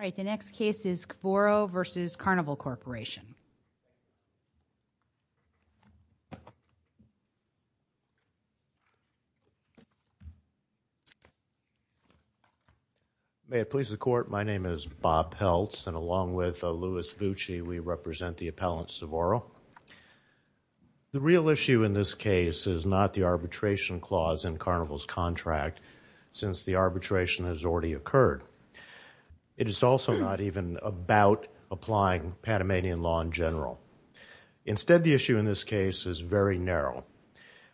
May it please the court, my name is Bob Peltz. And along with Louis Vucci, we represent the appellant Cvoro. The real issue in this case is not the arbitration clause in Carnival's contract, since the arbitration has already occurred. It is also not even about applying Panamanian law in general. Instead, the issue in this case is very narrow.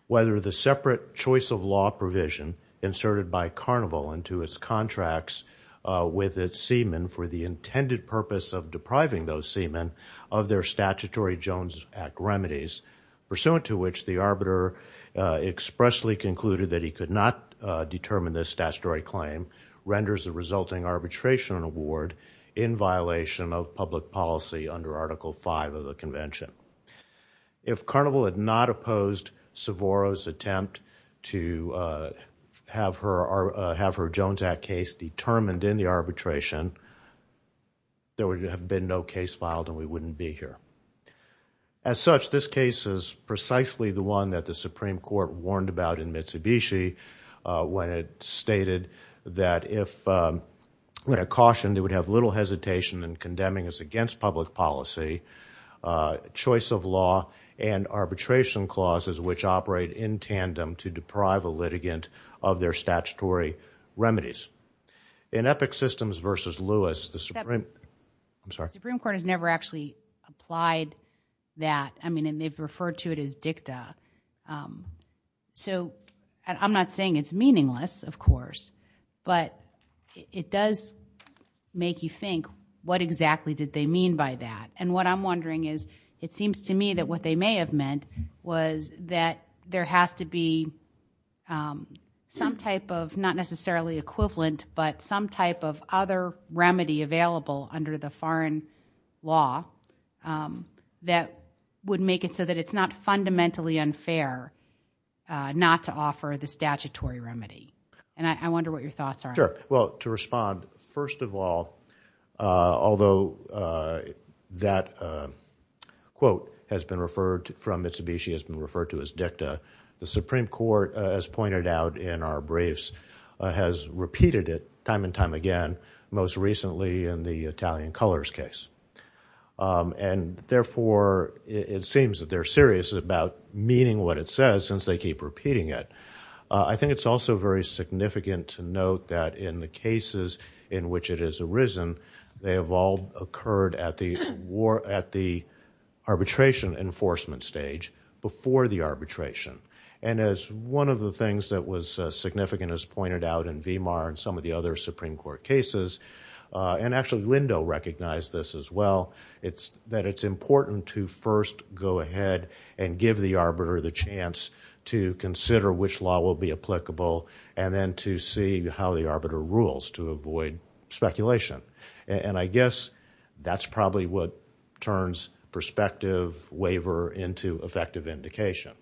Whether the separate choice of law provision inserted by Carnival into its contracts with its seamen for the intended purpose of depriving those seamen of their statutory Jones Act remedies, pursuant to which the arbiter expressly concluded that he could not determine this statutory claim, renders the resulting arbitration an award in violation of public policy under Article V of the Convention. If Carnival had not opposed Cvoro's attempt to have her Jones Act case determined in the arbitration, there would have been no case filed and we wouldn't be here. As such, this case is precisely the one that the Supreme Court warned about in Mitsubishi when it stated that if, when it cautioned, it would have little hesitation in condemning us against public policy, choice of law, and arbitration clauses which operate in tandem to deprive a litigant of their statutory remedies. In Epic Systems v. Lewis, the Supreme Court has never actually applied that, I mean, and they've referred to it as dicta, so I'm not saying it's meaningless, of course, but it does make you think, what exactly did they mean by that? And what I'm wondering is, it seems to me that what they may have meant was that there has to be some type of, not necessarily equivalent, but some type of other remedy available under the foreign law that would make it so that it's not fundamentally unfair not to offer the statutory remedy. And I wonder what your thoughts are. Sure, well, to respond, first of all, although that quote has been referred, from Mitsubishi has been referred to as dicta, the Supreme Court, as pointed out in our briefs, has repeated it time and time again, most recently in the Italian Colors case. And therefore, it seems that they're serious about meaning what it says since they keep repeating it. I think it's also very significant to note that in the cases in which it has arisen, they have all occurred at the arbitration enforcement stage before the arbitration. And as one of the things that was significant, as pointed out in Vimar and some of the other Supreme Court cases, and actually Lindo recognized this as well, that it's important to first go ahead and give the arbiter the chance to consider which law will be applicable and then to see how the arbiter rules to avoid speculation. And I guess that's probably what turns perspective waiver into effective indication.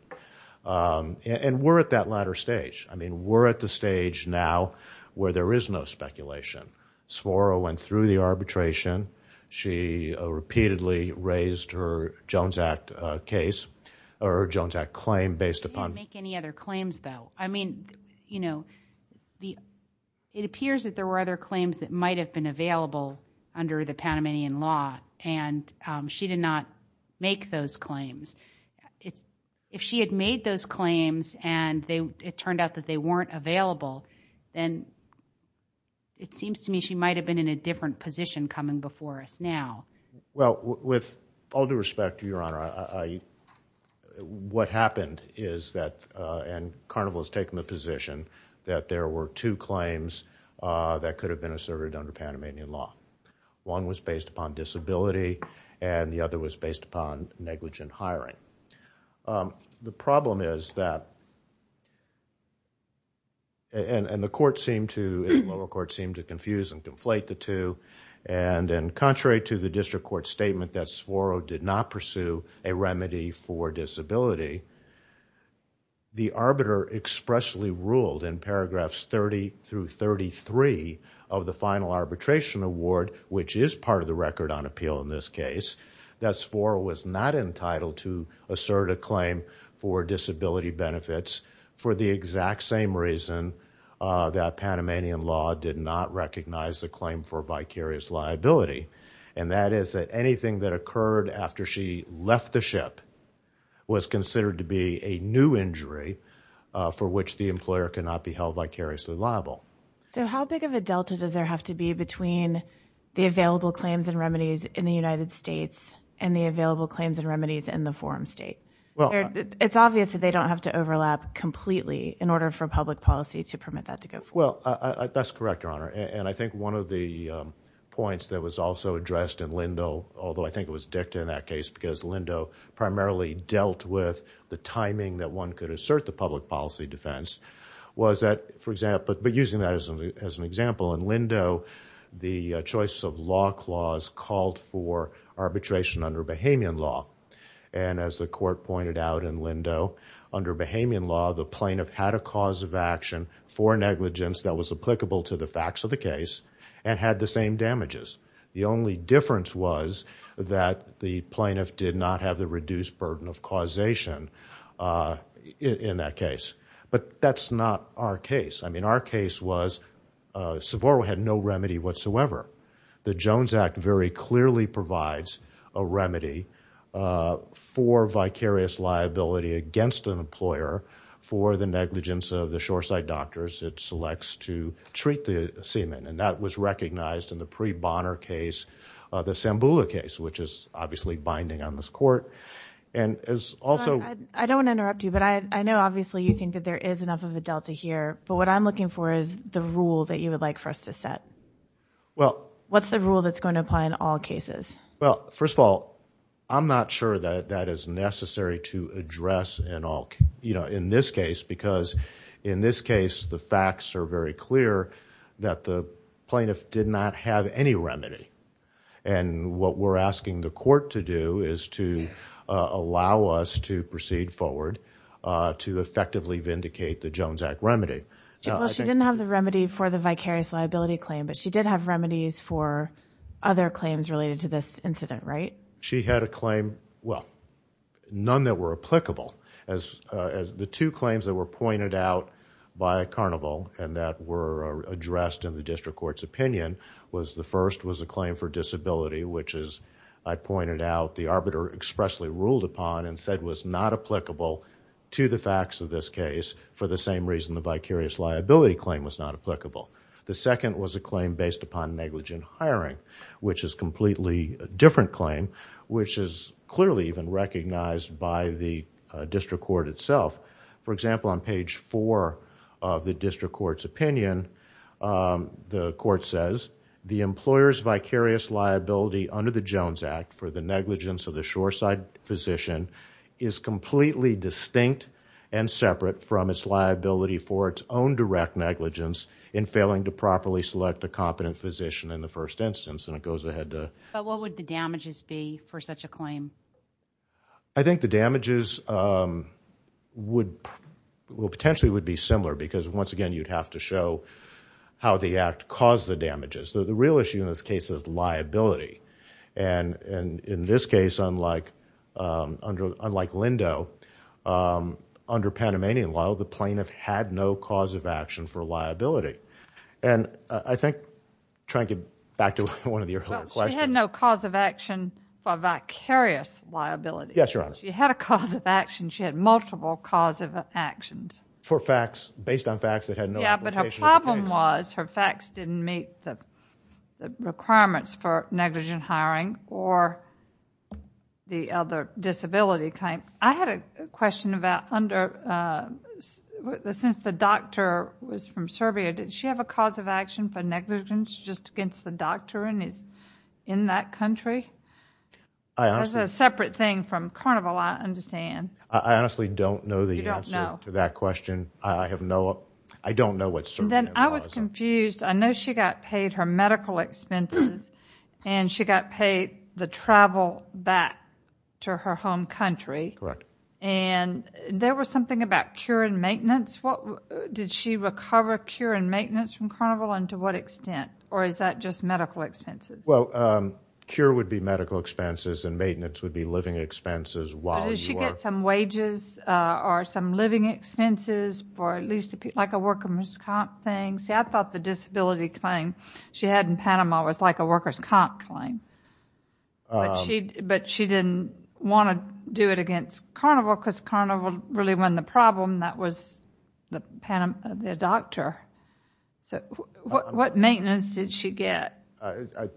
And we're at that latter stage. I mean, we're at the stage now where there is no speculation. Sforo went through the arbitration. She repeatedly raised her Jones Act case, or Jones Act claim based upon- She didn't make any other claims, though. I mean, you know, it appears that there were other claims that might have been available under the Panamanian law, and she did not make those claims. If she had made those claims and it turned out that they weren't available, then it seems to me she might have been in a different position coming before us now. Well, with all due respect, Your Honor, what happened is that, and Carnival has taken the position that there were two claims that could have been asserted under Panamanian law. One was based upon disability, and the other was based upon negligent hiring. The problem is that, and the lower court seemed to confuse and conflate the two, and contrary to the district court statement that Sforo did not pursue a remedy for disability, the criminal arbitration award, which is part of the record on appeal in this case, that Sforo was not entitled to assert a claim for disability benefits for the exact same reason that Panamanian law did not recognize the claim for vicarious liability. And that is that anything that occurred after she left the ship was considered to be a new injury for which the employer cannot be held vicariously liable. So how big of a delta does there have to be between the available claims and remedies in the United States and the available claims and remedies in the forum state? It's obvious that they don't have to overlap completely in order for public policy to permit that to go forward. Well, that's correct, Your Honor, and I think one of the points that was also addressed in Lindo, although I think it was dicta in that case because Lindo primarily dealt with the timing that one could assert the public policy defense, but using that as an example, in Lindo, the choice of law clause called for arbitration under Bahamian law. And as the court pointed out in Lindo, under Bahamian law, the plaintiff had a cause of action for negligence that was applicable to the facts of the case and had the same damages. The only difference was that the plaintiff did not have the reduced burden of causation in that case. But that's not our case. I mean, our case was Sevoro had no remedy whatsoever. The Jones Act very clearly provides a remedy for vicarious liability against an employer for the negligence of the shoreside doctors it selects to treat the seaman, and that was not our case. The Sambula case, which is obviously binding on this court, and is also- I don't want to interrupt you, but I know obviously you think that there is enough of a delta here, but what I'm looking for is the rule that you would like for us to set. What's the rule that's going to apply in all cases? Well, first of all, I'm not sure that that is necessary to address in this case because in this case, the facts are very clear that the plaintiff did not have any remedy. And what we're asking the court to do is to allow us to proceed forward to effectively vindicate the Jones Act remedy. Well, she didn't have the remedy for the vicarious liability claim, but she did have remedies for other claims related to this incident, right? She had a claim- well, none that were applicable. As the two claims that were pointed out by Carnival and that were addressed in the district court's opinion, the first was a claim for disability, which as I pointed out, the arbiter expressly ruled upon and said was not applicable to the facts of this case for the same reason the vicarious liability claim was not applicable. The second was a claim based upon negligent hiring, which is a completely different claim, which is clearly even recognized by the district court itself. For example, on page four of the district court's opinion, the court says, the employer's vicarious liability under the Jones Act for the negligence of the shoreside physician is completely distinct and separate from its liability for its own direct negligence in failing to properly select a competent physician in the first instance, and it goes ahead to- But what would the damages be for such a claim? I think the damages would- well, potentially would be similar because once again, you'd have to show how the act caused the damages. The real issue in this case is liability, and in this case, unlike Lindo, under Panamanian law, the plaintiff had no cause of action for liability, and I think, trying to get back to one of your earlier questions- Well, she had no cause of action for vicarious liability. Yes, Your Honor. She had a cause of action. She had multiple cause of actions. For facts, based on facts that had no application of the case. Yeah, but her problem was her facts didn't meet the requirements for negligent hiring or the other disability claim. I had a question about under- since the doctor was from Serbia, did she have a cause of action for negligence just against the doctor, and he's in that country? That's a separate thing from Carnival, I understand. I honestly don't know the answer to that question. I have no... I don't know what Serbia was. I was confused. I know she got paid her medical expenses, and she got paid the travel back to her home country. Correct. And there was something about cure and maintenance. Did she recover cure and maintenance from Carnival, and to what extent? Or is that just medical expenses? Well, cure would be medical expenses, and maintenance would be living expenses while you are... Did she get some wages or some living expenses for at least a... like a worker's comp thing? See, I thought the disability claim she had in Panama was like a worker's comp claim, but she didn't want to do it against Carnival because Carnival really won the problem. That was their doctor. What maintenance did she get? I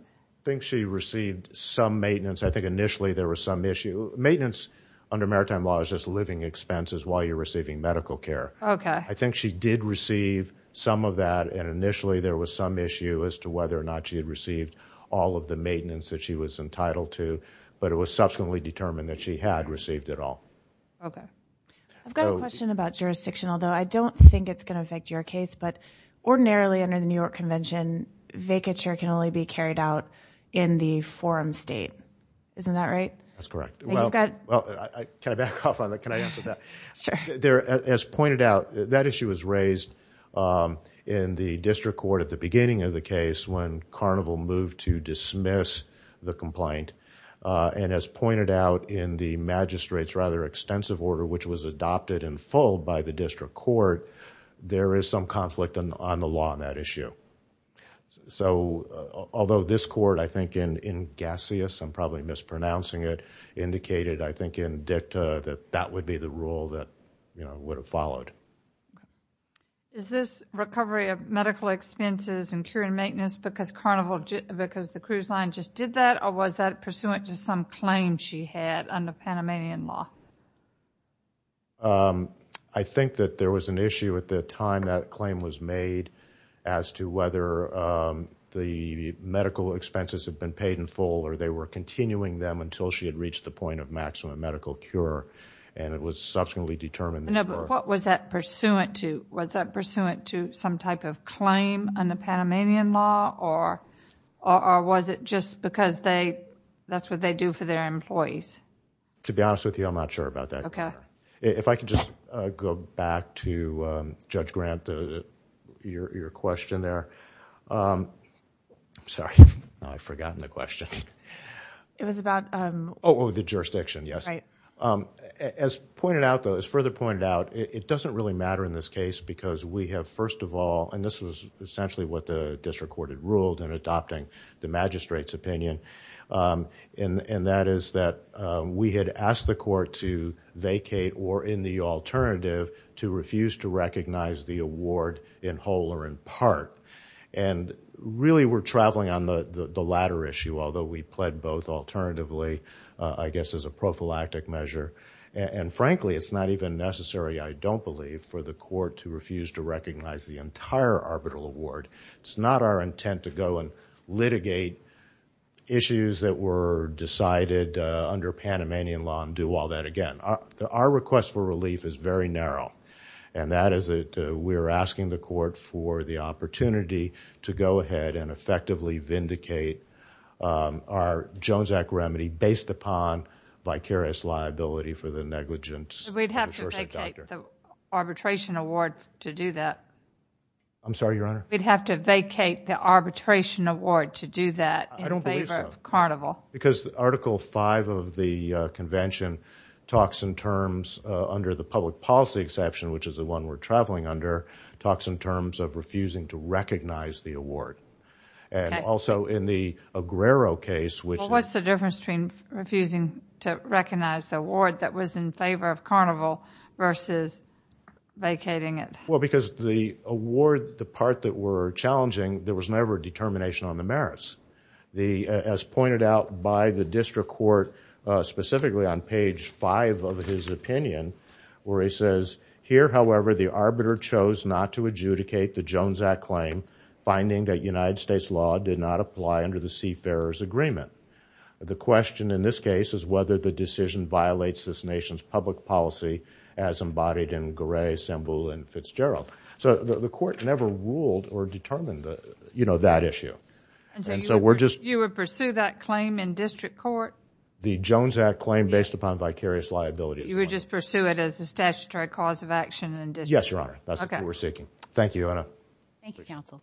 think she received some maintenance. I think initially there was some issue. Maintenance under maritime law is just living expenses while you're receiving medical care. I think she did receive some of that, and initially there was some issue as to whether or not she had received all of the maintenance that she was entitled to, but it was subsequently determined that she had received it all. Okay. I've got a question about jurisdiction, although I don't think it's going to affect your case, but ordinarily under the New York Convention, vacature can only be carried out in the forum state. Isn't that right? That's correct. Can I back off on that? Can I answer that? Sure. As pointed out, that issue was raised in the district court at the beginning of the case when Carnival moved to dismiss the complaint, and as pointed out in the magistrate's rather which was adopted in full by the district court, there is some conflict on the law on that issue. Although this court, I think in Gassius, I'm probably mispronouncing it, indicated, I think in dicta, that that would be the rule that would have followed. Is this recovery of medical expenses and care and maintenance because the cruise line just did that, or was that pursuant to some claim she had under Panamanian law? I think that there was an issue at the time that claim was made as to whether the medical expenses had been paid in full or they were continuing them until she had reached the point of maximum medical cure, and it was subsequently determined... No, but what was that pursuant to? Was that pursuant to some type of claim under Panamanian law, or was it just because that's what they do for their employees? To be honest with you, I'm not sure about that. If I could just go back to Judge Grant, your question there. Sorry, I've forgotten the question. It was about... Oh, the jurisdiction, yes. As further pointed out, it doesn't really matter in this case because we have first of all, and this was essentially what the district court had ruled in adopting the magistrate's and that is that we had asked the court to vacate or in the alternative, to refuse to recognize the award in whole or in part, and really we're traveling on the latter issue, although we pled both alternatively, I guess as a prophylactic measure, and frankly it's not even necessary, I don't believe, for the court to refuse to recognize the entire arbitral award. It's not our intent to go and litigate issues that were decided under Panamanian law and do all that again. Our request for relief is very narrow, and that is that we're asking the court for the opportunity to go ahead and effectively vindicate our Jones Act remedy based upon vicarious liability for the negligence... We'd have to vacate the arbitration award to do that. I'm sorry, Your Honor? We'd have to vacate the arbitration award to do that in favor of Carnival. Because Article 5 of the convention talks in terms, under the public policy exception, which is the one we're traveling under, talks in terms of refusing to recognize the award, and also in the Aguero case, which... What's the difference between refusing to recognize the award that was in favor of Carnival versus vacating it? Because the award, the part that were challenging, there was never a determination on the merits. As pointed out by the district court, specifically on page 5 of his opinion, where he says, Here, however, the arbiter chose not to adjudicate the Jones Act claim, finding that United States law did not apply under the Seafarer's Agreement. The question in this case is whether the decision violates this nation's public policy as embodied in Gray, Semble, and Fitzgerald. The court never ruled or determined that issue. You would pursue that claim in district court? The Jones Act claim based upon vicarious liabilities. You would just pursue it as a statutory cause of action in district court? Yes, Your Honor. That's what we're seeking. Thank you, Your Honor. Thank you, counsel.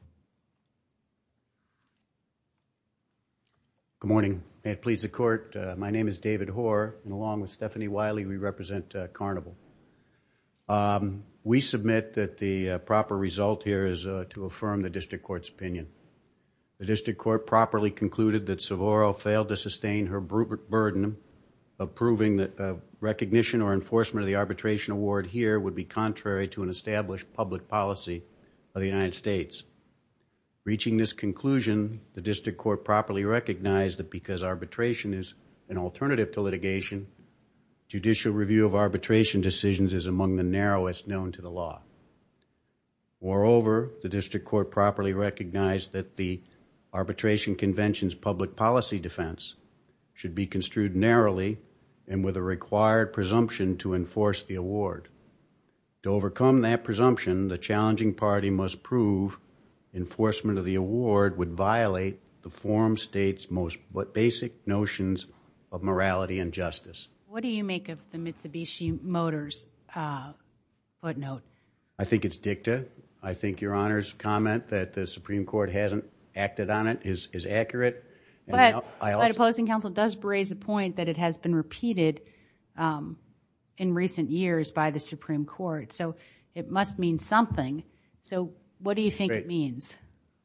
Good morning. May it please the Court. My name is David Hoar. Along with Stephanie Wiley, we represent Carnival. We submit that the proper result here is to affirm the district court's opinion. The district court properly concluded that Savoro failed to sustain her burden of proving that recognition or enforcement of the arbitration award here would be contrary to an established public policy of the United States. Reaching this conclusion, the district court properly recognized that because arbitration is an alternative to litigation, judicial review of arbitration decisions is among the narrowest known to the law. Moreover, the district court properly recognized that the arbitration convention's public policy defense should be construed narrowly and with a required presumption to enforce the award. To overcome that presumption, the challenging party must prove enforcement of the award would violate the forum state's most basic notions of morality and justice. What do you make of the Mitsubishi Motors footnote? I think it's dicta. I think Your Honor's comment that the Supreme Court hasn't acted on it is accurate. But my opposing counsel does raise a point that it has been repeated in recent years by the Supreme Court. So what do you think it means?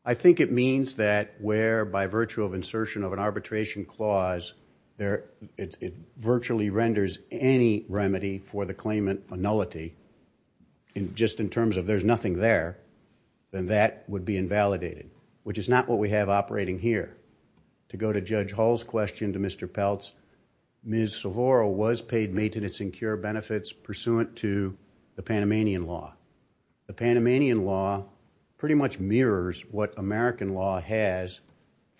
I think it means that where by virtue of insertion of an arbitration clause, it virtually renders any remedy for the claimant a nullity, just in terms of there's nothing there, then that would be invalidated, which is not what we have operating here. To go to Judge Hull's question to Mr. Peltz, Ms. Sovorrow was paid maintenance and cure benefits pursuant to the Panamanian law. The Panamanian law pretty much mirrors what American law has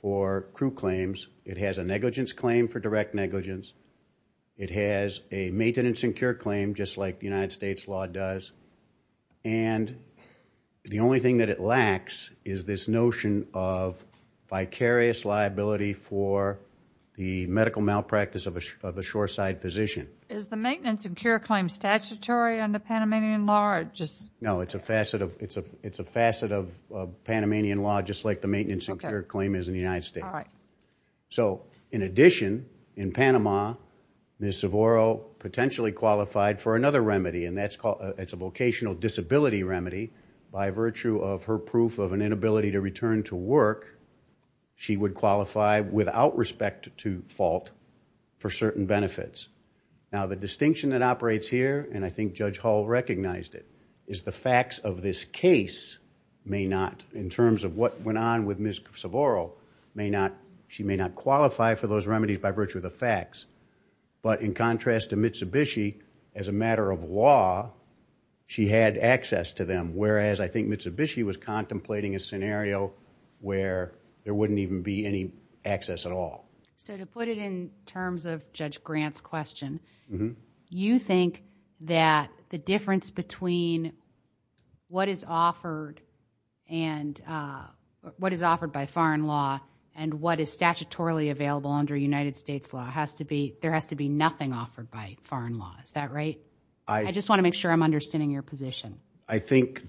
for crew claims. It has a negligence claim for direct negligence. It has a maintenance and cure claim, just like the United States law does. And the only thing that it lacks is this notion of vicarious liability for the medical malpractice of a shoreside physician. Is the maintenance and cure claim statutory under Panamanian law? No, it's a facet of Panamanian law, just like the maintenance and cure claim is in the United States. So in addition, in Panama, Ms. Sovorrow potentially qualified for another remedy, and that's a vocational disability remedy. By virtue of her proof of an inability to return to work, she would qualify without respect to fault for certain benefits. Now the distinction that operates here, and I think Judge Hull recognized it, is the facts of this case may not, in terms of what went on with Ms. Sovorrow, she may not qualify for those remedies by virtue of the facts. But in contrast to Mitsubishi, as a matter of law, she had access to them. Whereas I think Mitsubishi was contemplating a scenario where there wouldn't even be any access at all. So to put it in terms of Judge Grant's question, you think that the difference between what is offered by foreign law and what is statutorily available under United States law, there has to be nothing offered by foreign law, is that right? I just want to make sure I'm understanding your position. I think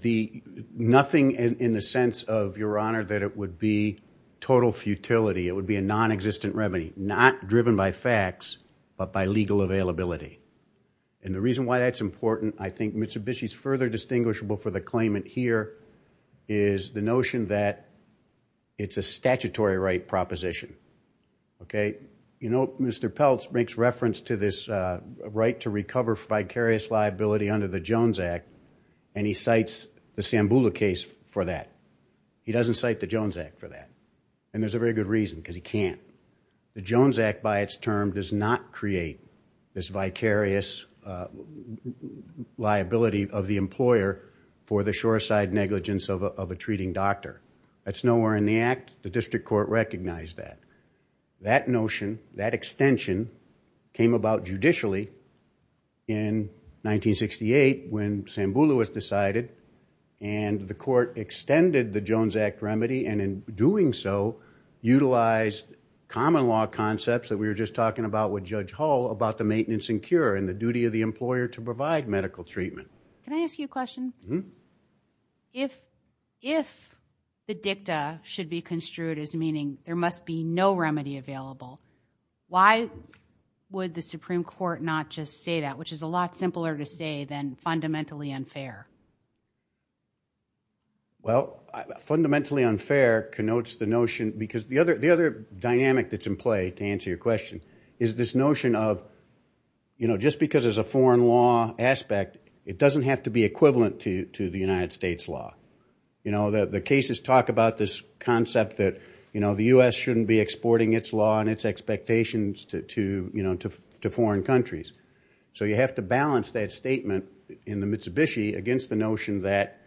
nothing in the sense of, Your Honor, that it would be total futility, it would be a non-existent remedy, not driven by facts, but by legal availability. And the reason why that's important, I think Mitsubishi's further distinguishable for the claimant here is the notion that it's a statutory right proposition, okay? You know, Mr. Peltz makes reference to this right to recover vicarious liability under the Jones Act, and he cites the Sambula case for that. He doesn't cite the Jones Act for that. And there's a very good reason, because he can't. The Jones Act, by its term, does not create this vicarious liability of the employer for the sure side negligence of a treating doctor. That's nowhere in the Act. The district court recognized that. That notion, that extension, came about judicially in 1968 when Sambula was decided, and the Supreme Court, in doing so, utilized common law concepts that we were just talking about with Judge Hull about the maintenance and cure, and the duty of the employer to provide medical treatment. Can I ask you a question? If the dicta should be construed as meaning there must be no remedy available, why would the Supreme Court not just say that, which is a lot simpler to say than fundamentally unfair? Well, fundamentally unfair connotes the notion, because the other dynamic that's in play, to answer your question, is this notion of, just because there's a foreign law aspect, it doesn't have to be equivalent to the United States law. The cases talk about this concept that the U.S. shouldn't be exporting its law and its expectations to foreign countries. So you have to balance that statement in the Mitsubishi against the notion that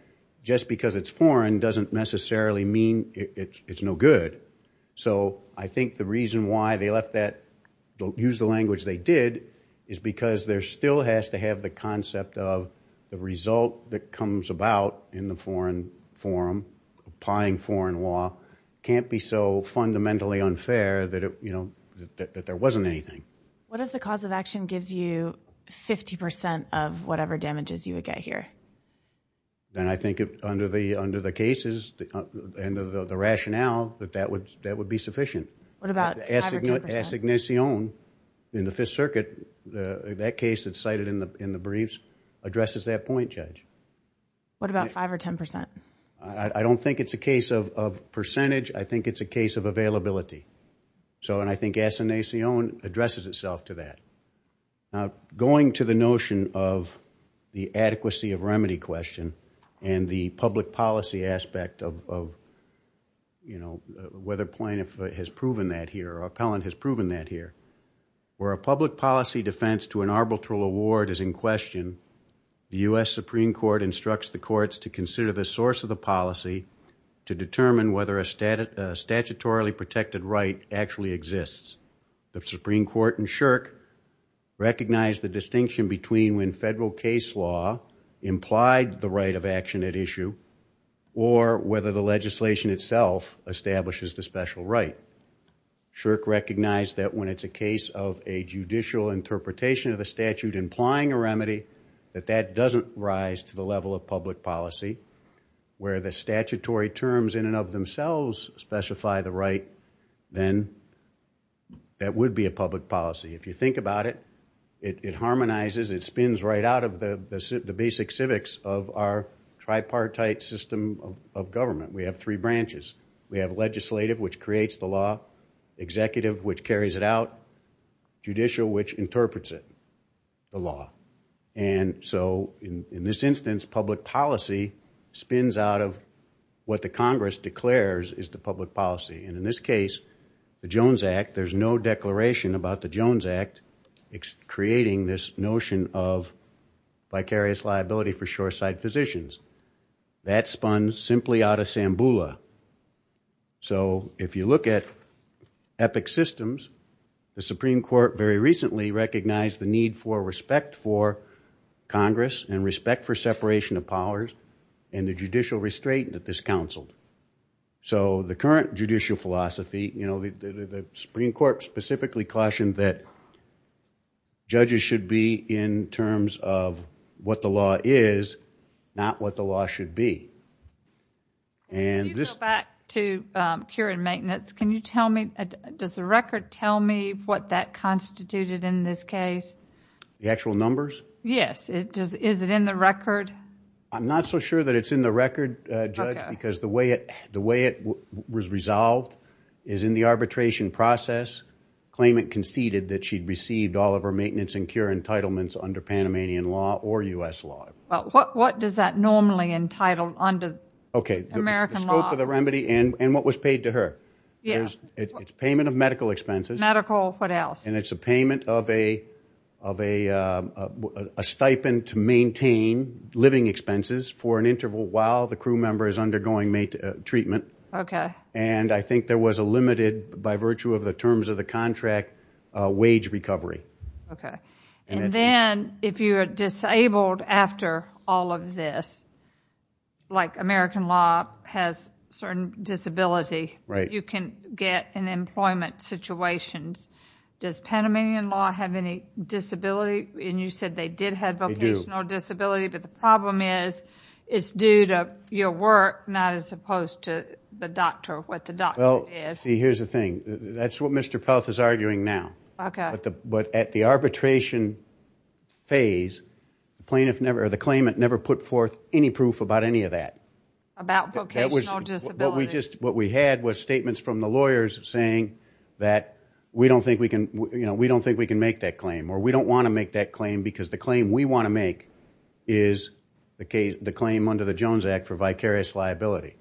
just because it's foreign doesn't necessarily mean it's no good. So I think the reason why they left that, used the language they did, is because there still has to have the concept of the result that comes about in the foreign forum, applying foreign law, can't be so fundamentally unfair that there wasn't anything. What if the cause of action gives you 50% of whatever damages you would get here? Then I think under the cases and the rationale that that would be sufficient. What about 5 or 10%? The assignation in the Fifth Circuit, that case that's cited in the briefs, addresses that point, Judge. What about 5 or 10%? I don't think it's a case of percentage, I think it's a case of availability. So I think assignation addresses itself to that. Going to the notion of the adequacy of remedy question and the public policy aspect of whether plaintiff has proven that here or appellant has proven that here, where a public policy defense to an arbitral award is in question, the U.S. Supreme Court instructs the courts to consider the source of the policy to determine whether a statutorily protected right actually exists. The Supreme Court in Shirk recognized the distinction between when federal case law implied the right of action at issue or whether the legislation itself establishes the special right. Shirk recognized that when it's a case of a judicial interpretation of the statute implying a remedy that that doesn't rise to the level of public policy where the statutory terms in and of themselves specify the right, then that would be a public policy. If you think about it, it harmonizes, it spins right out of the basic civics of our tripartite system of government. We have three branches. We have legislative, which creates the law, executive, which carries it out, judicial, which interprets it, the law. And so in this instance, public policy spins out of what the Congress declares is the public policy. And in this case, the Jones Act, there's no declaration about the Jones Act creating this notion of vicarious liability for shoreside physicians. That spun simply out of Sambula. So if you look at epic systems, the Supreme Court very recently recognized the need for respect for Congress and respect for separation of powers and the judicial restraint that this counseled. So the current judicial philosophy, the Supreme Court specifically cautioned that judges should be in terms of what the law is, not what the law should be. If you go back to cure and maintenance, can you tell me, does the record tell me what that constituted in this case? The actual numbers? Yes. Is it in the record? I'm not so sure that it's in the record, Judge, because the way it was resolved is in the arbitration process, claimant conceded that she'd received all of her maintenance and cure entitlements under Panamanian law or U.S. law. What does that normally entitle under American law? The scope of the remedy and what was paid to her. It's payment of medical expenses. Medical, what else? And it's a payment of a stipend to maintain living expenses for an interval while the crew member is undergoing treatment. And I think there was a limited, by virtue of the terms of the contract, wage recovery. Okay. And then, if you are disabled after all of this, like American law has certain disability, you can get in employment situations. Does Panamanian law have any disability? And you said they did have vocational disability, but the problem is, it's due to your work, not as opposed to the doctor, what the doctor is. Well, see, here's the thing. That's what Mr. Peltz is arguing now. But at the arbitration phase, the claimant never put forth any proof about any of that. About vocational disability. What we had was statements from the lawyers saying that we don't think we can make that claim or we don't want to make that claim because the claim we want to make is the claim under the Jones Act for vicarious liability.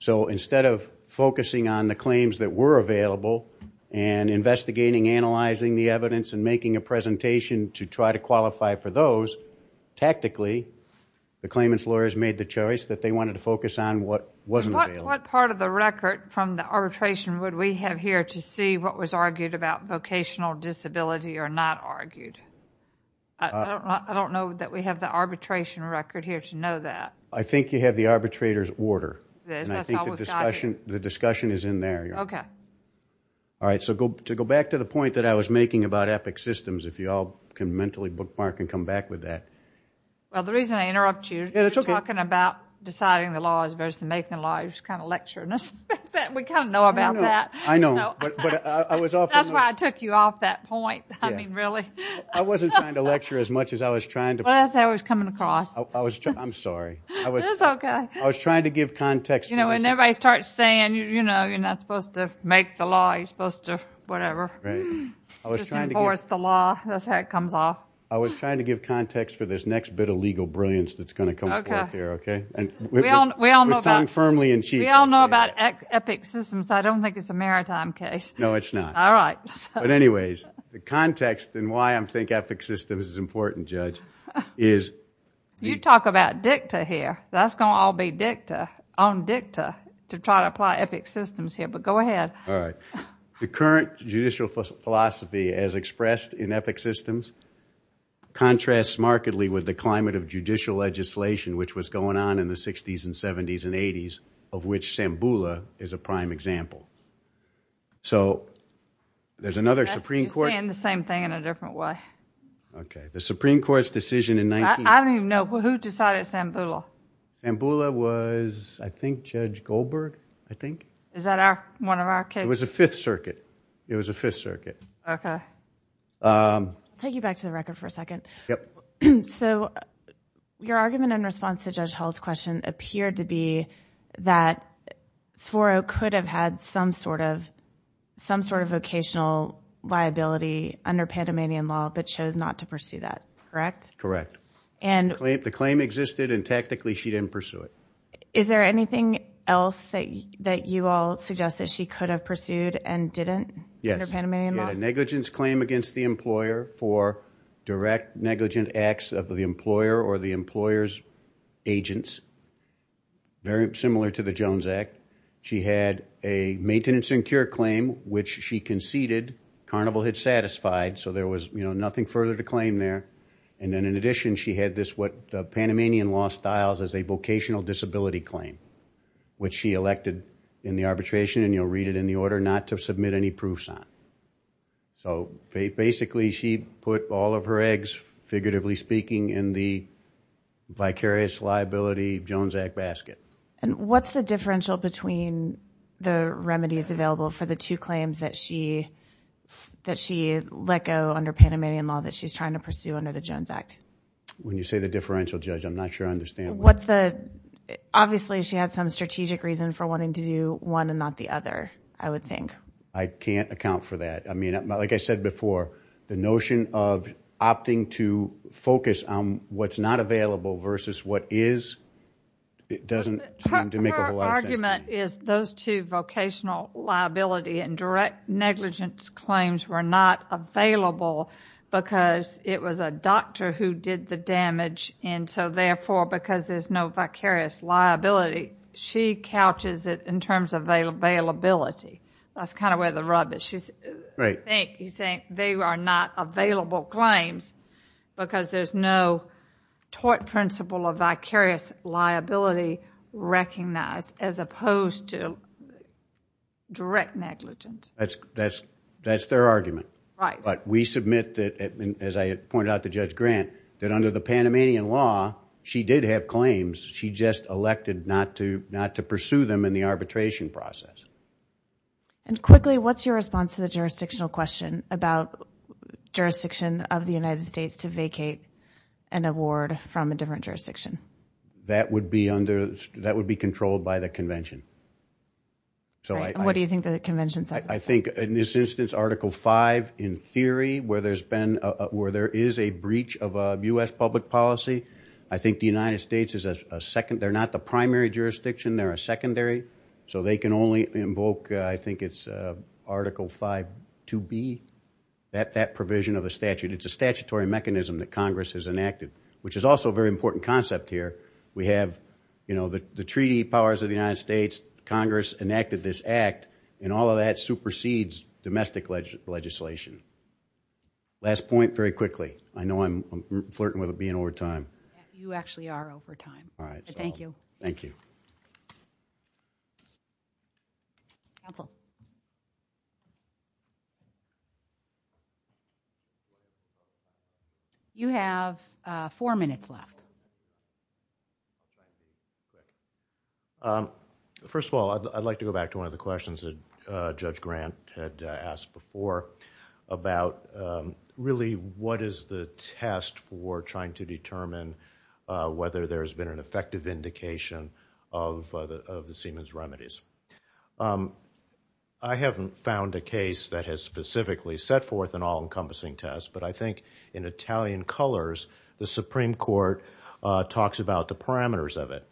So instead of focusing on the claims that were available and investigating, analyzing the evidence and making a presentation to try to qualify for those, tactically, the claimant's lawyers made the choice that they wanted to focus on what wasn't available. What part of the record from the arbitration would we have here to see what was argued about vocational disability or not argued? I don't know that we have the arbitration record here to know that. I think you have the arbitrator's order. The discussion is in there. Okay. All right. So to go back to the point that I was making about EPIC systems, if you all can mentally bookmark and come back with that. Well, the reason I interrupt you is you're talking about deciding the laws versus making the laws. You're just kind of lecturing us. We kind of know about that. I know. But I was off. That's why I took you off that point. I mean, really. I wasn't trying to lecture as much as I was trying to. Well, I thought it was coming across. I'm sorry. It's okay. I was trying to give context. You know, when everybody starts saying, you're not supposed to make the law, you're supposed to whatever. Right. Just enforce the law. That's how it comes off. I was trying to give context for this next bit of legal brilliance that's going to come forth here. Okay. We all know about EPIC systems. I don't think it's a maritime case. No, it's not. All right. But anyways, the context and why I think EPIC systems is important, Judge, is... You talk about dicta here. That's going to all be dicta, on dicta, to try to apply EPIC systems here. But go ahead. All right. The current judicial philosophy as expressed in EPIC systems contrasts markedly with the climate of judicial legislation, which was going on in the 60s and 70s and 80s, of which Shambhula is a prime example. So, there's another Supreme Court... You're saying the same thing in a different way. Okay. The Supreme Court's decision in... I don't even know. Who decided Shambhula? Shambhula was, I think, Judge Goldberg, I think. Is that one of our cases? It was the Fifth Circuit. It was the Fifth Circuit. Okay. I'll take you back to the record for a second. Yep. So, your argument in response to Judge Hall's question appeared to be that Sforo could have had some sort of vocational liability under Panamanian law, but chose not to pursue that, correct? Correct. And... The claim existed, and tactically, she didn't pursue it. Is there anything else that you all suggest that she could have pursued and didn't under Panamanian law? Yes. She had a negligence claim against the employer for direct negligent acts of the employer or the employer's agents, very similar to the Jones Act. She had a maintenance and cure claim, which she conceded Carnival had satisfied, so there was nothing further to claim there. And then, in addition, she had this, what the Panamanian law styles as a vocational disability claim, which she elected in the arbitration, and you'll read it in the order, not to submit any proofs on. So, basically, she put all of her eggs, figuratively speaking, in the vicarious liability Jones Act basket. And what's the differential between the remedies available for the two claims that she let go under Panamanian law that she's trying to pursue under the Jones Act? When you say the differential, Judge, I'm not sure I understand what... Obviously, she had some strategic reason for wanting to do one and not the other, I would think. I can't account for that. I mean, like I said before, the notion of opting to focus on what's not available versus what is, it doesn't seem to make a whole lot of sense to me. Her argument is those two vocational liability and direct negligence claims were not available because it was a doctor who did the damage, and so, therefore, because there's no vicarious liability, she couches it in terms of availability. That's kind of where the rub is. She's... Right. I think he's saying they are not available claims because there's no tort principle of vicarious liability recognized as opposed to direct negligence. That's their argument. Right. But we submit that, as I had pointed out to Judge Grant, that under the Panamanian law, she did have claims. She just elected not to pursue them in the arbitration process. Quickly, what's your response to the jurisdictional question about jurisdiction of the United States to vacate an award from a different jurisdiction? That would be controlled by the convention. What do you think the convention says about that? I think, in this instance, Article V, in theory, where there is a breach of U.S. public policy, I think the United States is a second... They're not the primary jurisdiction, they're a secondary, so they can only invoke, I think it's Article V-2B, that provision of the statute. It's a statutory mechanism that Congress has enacted, which is also a very important concept here. We have the treaty powers of the United States, Congress enacted this act, and all of that supersedes domestic legislation. Last point, very quickly. I know I'm flirting with it, being over time. You actually are over time. All right. Thank you. Thank you. Thank you. Thank you. Thank you. Counsel. You have four minutes left. First of all, I'd like to go back to one of the questions that Judge Grant had asked before about really what is the test for trying to determine whether there's been an effective vindication of the Siemens remedies. I haven't found a case that has specifically set forth an all-encompassing test, but I think in Italian colors, the Supreme Court talks about the parameters of it.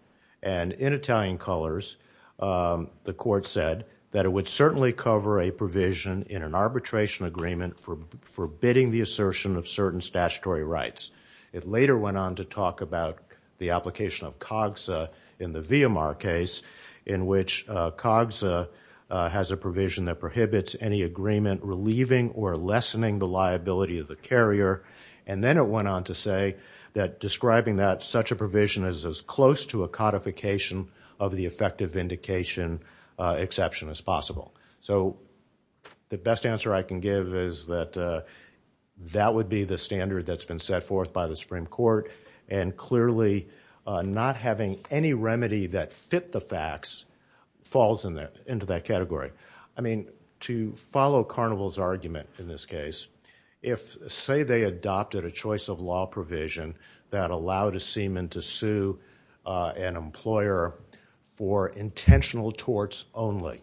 In Italian colors, the court said that it would certainly cover a provision in an arbitration agreement for forbidding the assertion of certain statutory rights. It later went on to talk about the application of COGSA in the Viamar case, in which COGSA has a provision that prohibits any agreement relieving or lessening the liability of the carrier. Then it went on to say that describing that such a provision is as close to a codification of the effective vindication exception as possible. So the best answer I can give is that that would be the standard that's been set forth by the Supreme Court, and clearly not having any remedy that fit the facts falls into that category. I mean, to follow Carnival's argument in this case, if say they adopted a choice of law that allowed a seaman to sue an employer for intentional torts only,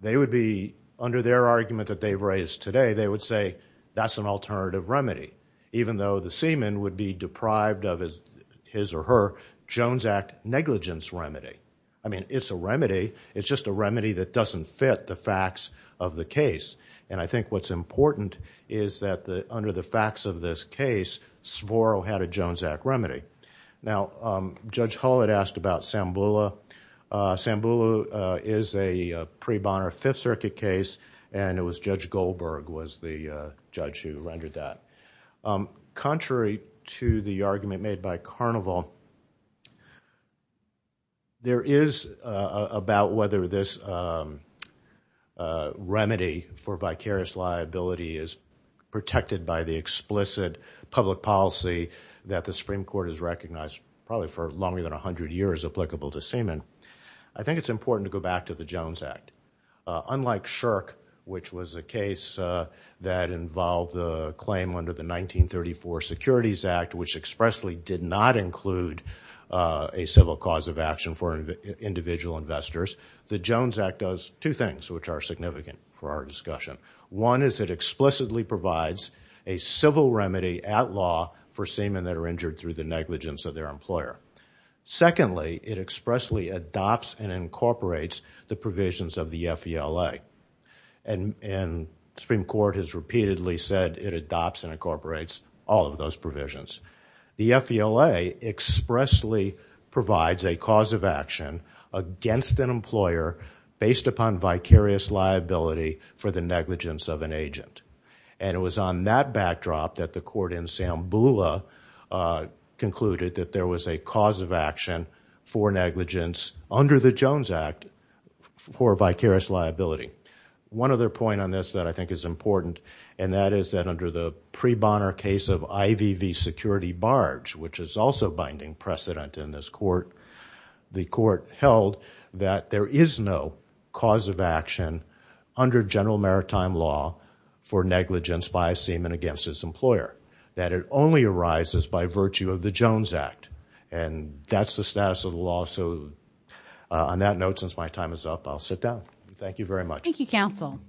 they would be, under their argument that they've raised today, they would say that's an alternative remedy, even though the seaman would be deprived of his or her Jones Act negligence remedy. I mean, it's a remedy, it's just a remedy that doesn't fit the facts of the case, and I think what's important is that under the facts of this case, Svoro had a Jones Act remedy. Now, Judge Hull had asked about Sambula. Sambula is a pre Bonner Fifth Circuit case, and it was Judge Goldberg was the judge who rendered that. Contrary to the argument made by Carnival, there is about whether this remedy for vicarious liability is protected by the explicit public policy that the Supreme Court has recognized probably for longer than 100 years applicable to seaman. I think it's important to go back to the Jones Act. Unlike Shirk, which was a case that involved the claim under the 1934 Securities Act, which expressly did not include a civil cause of action for individual investors, the Jones Act does two things, which are significant for our discussion. One is it explicitly provides a civil remedy at law for seamen that are injured through the negligence of their employer. Secondly, it expressly adopts and incorporates the provisions of the FVLA. The Supreme Court has repeatedly said it adopts and incorporates all of those provisions. The FVLA expressly provides a cause of action against an employer based upon vicarious liability It was on that backdrop that the court in Sambula concluded that there was a cause of action for negligence under the Jones Act for vicarious liability. One other point on this that I think is important, and that is that under the pre Bonner case of IVV security barge, which is also binding precedent in this court, the court held that there is no cause of action under general maritime law for negligence by a seaman against his employer. That it only arises by virtue of the Jones Act. And that's the status of the law, so on that note, since my time is up, I'll sit down. Thank you, counsel.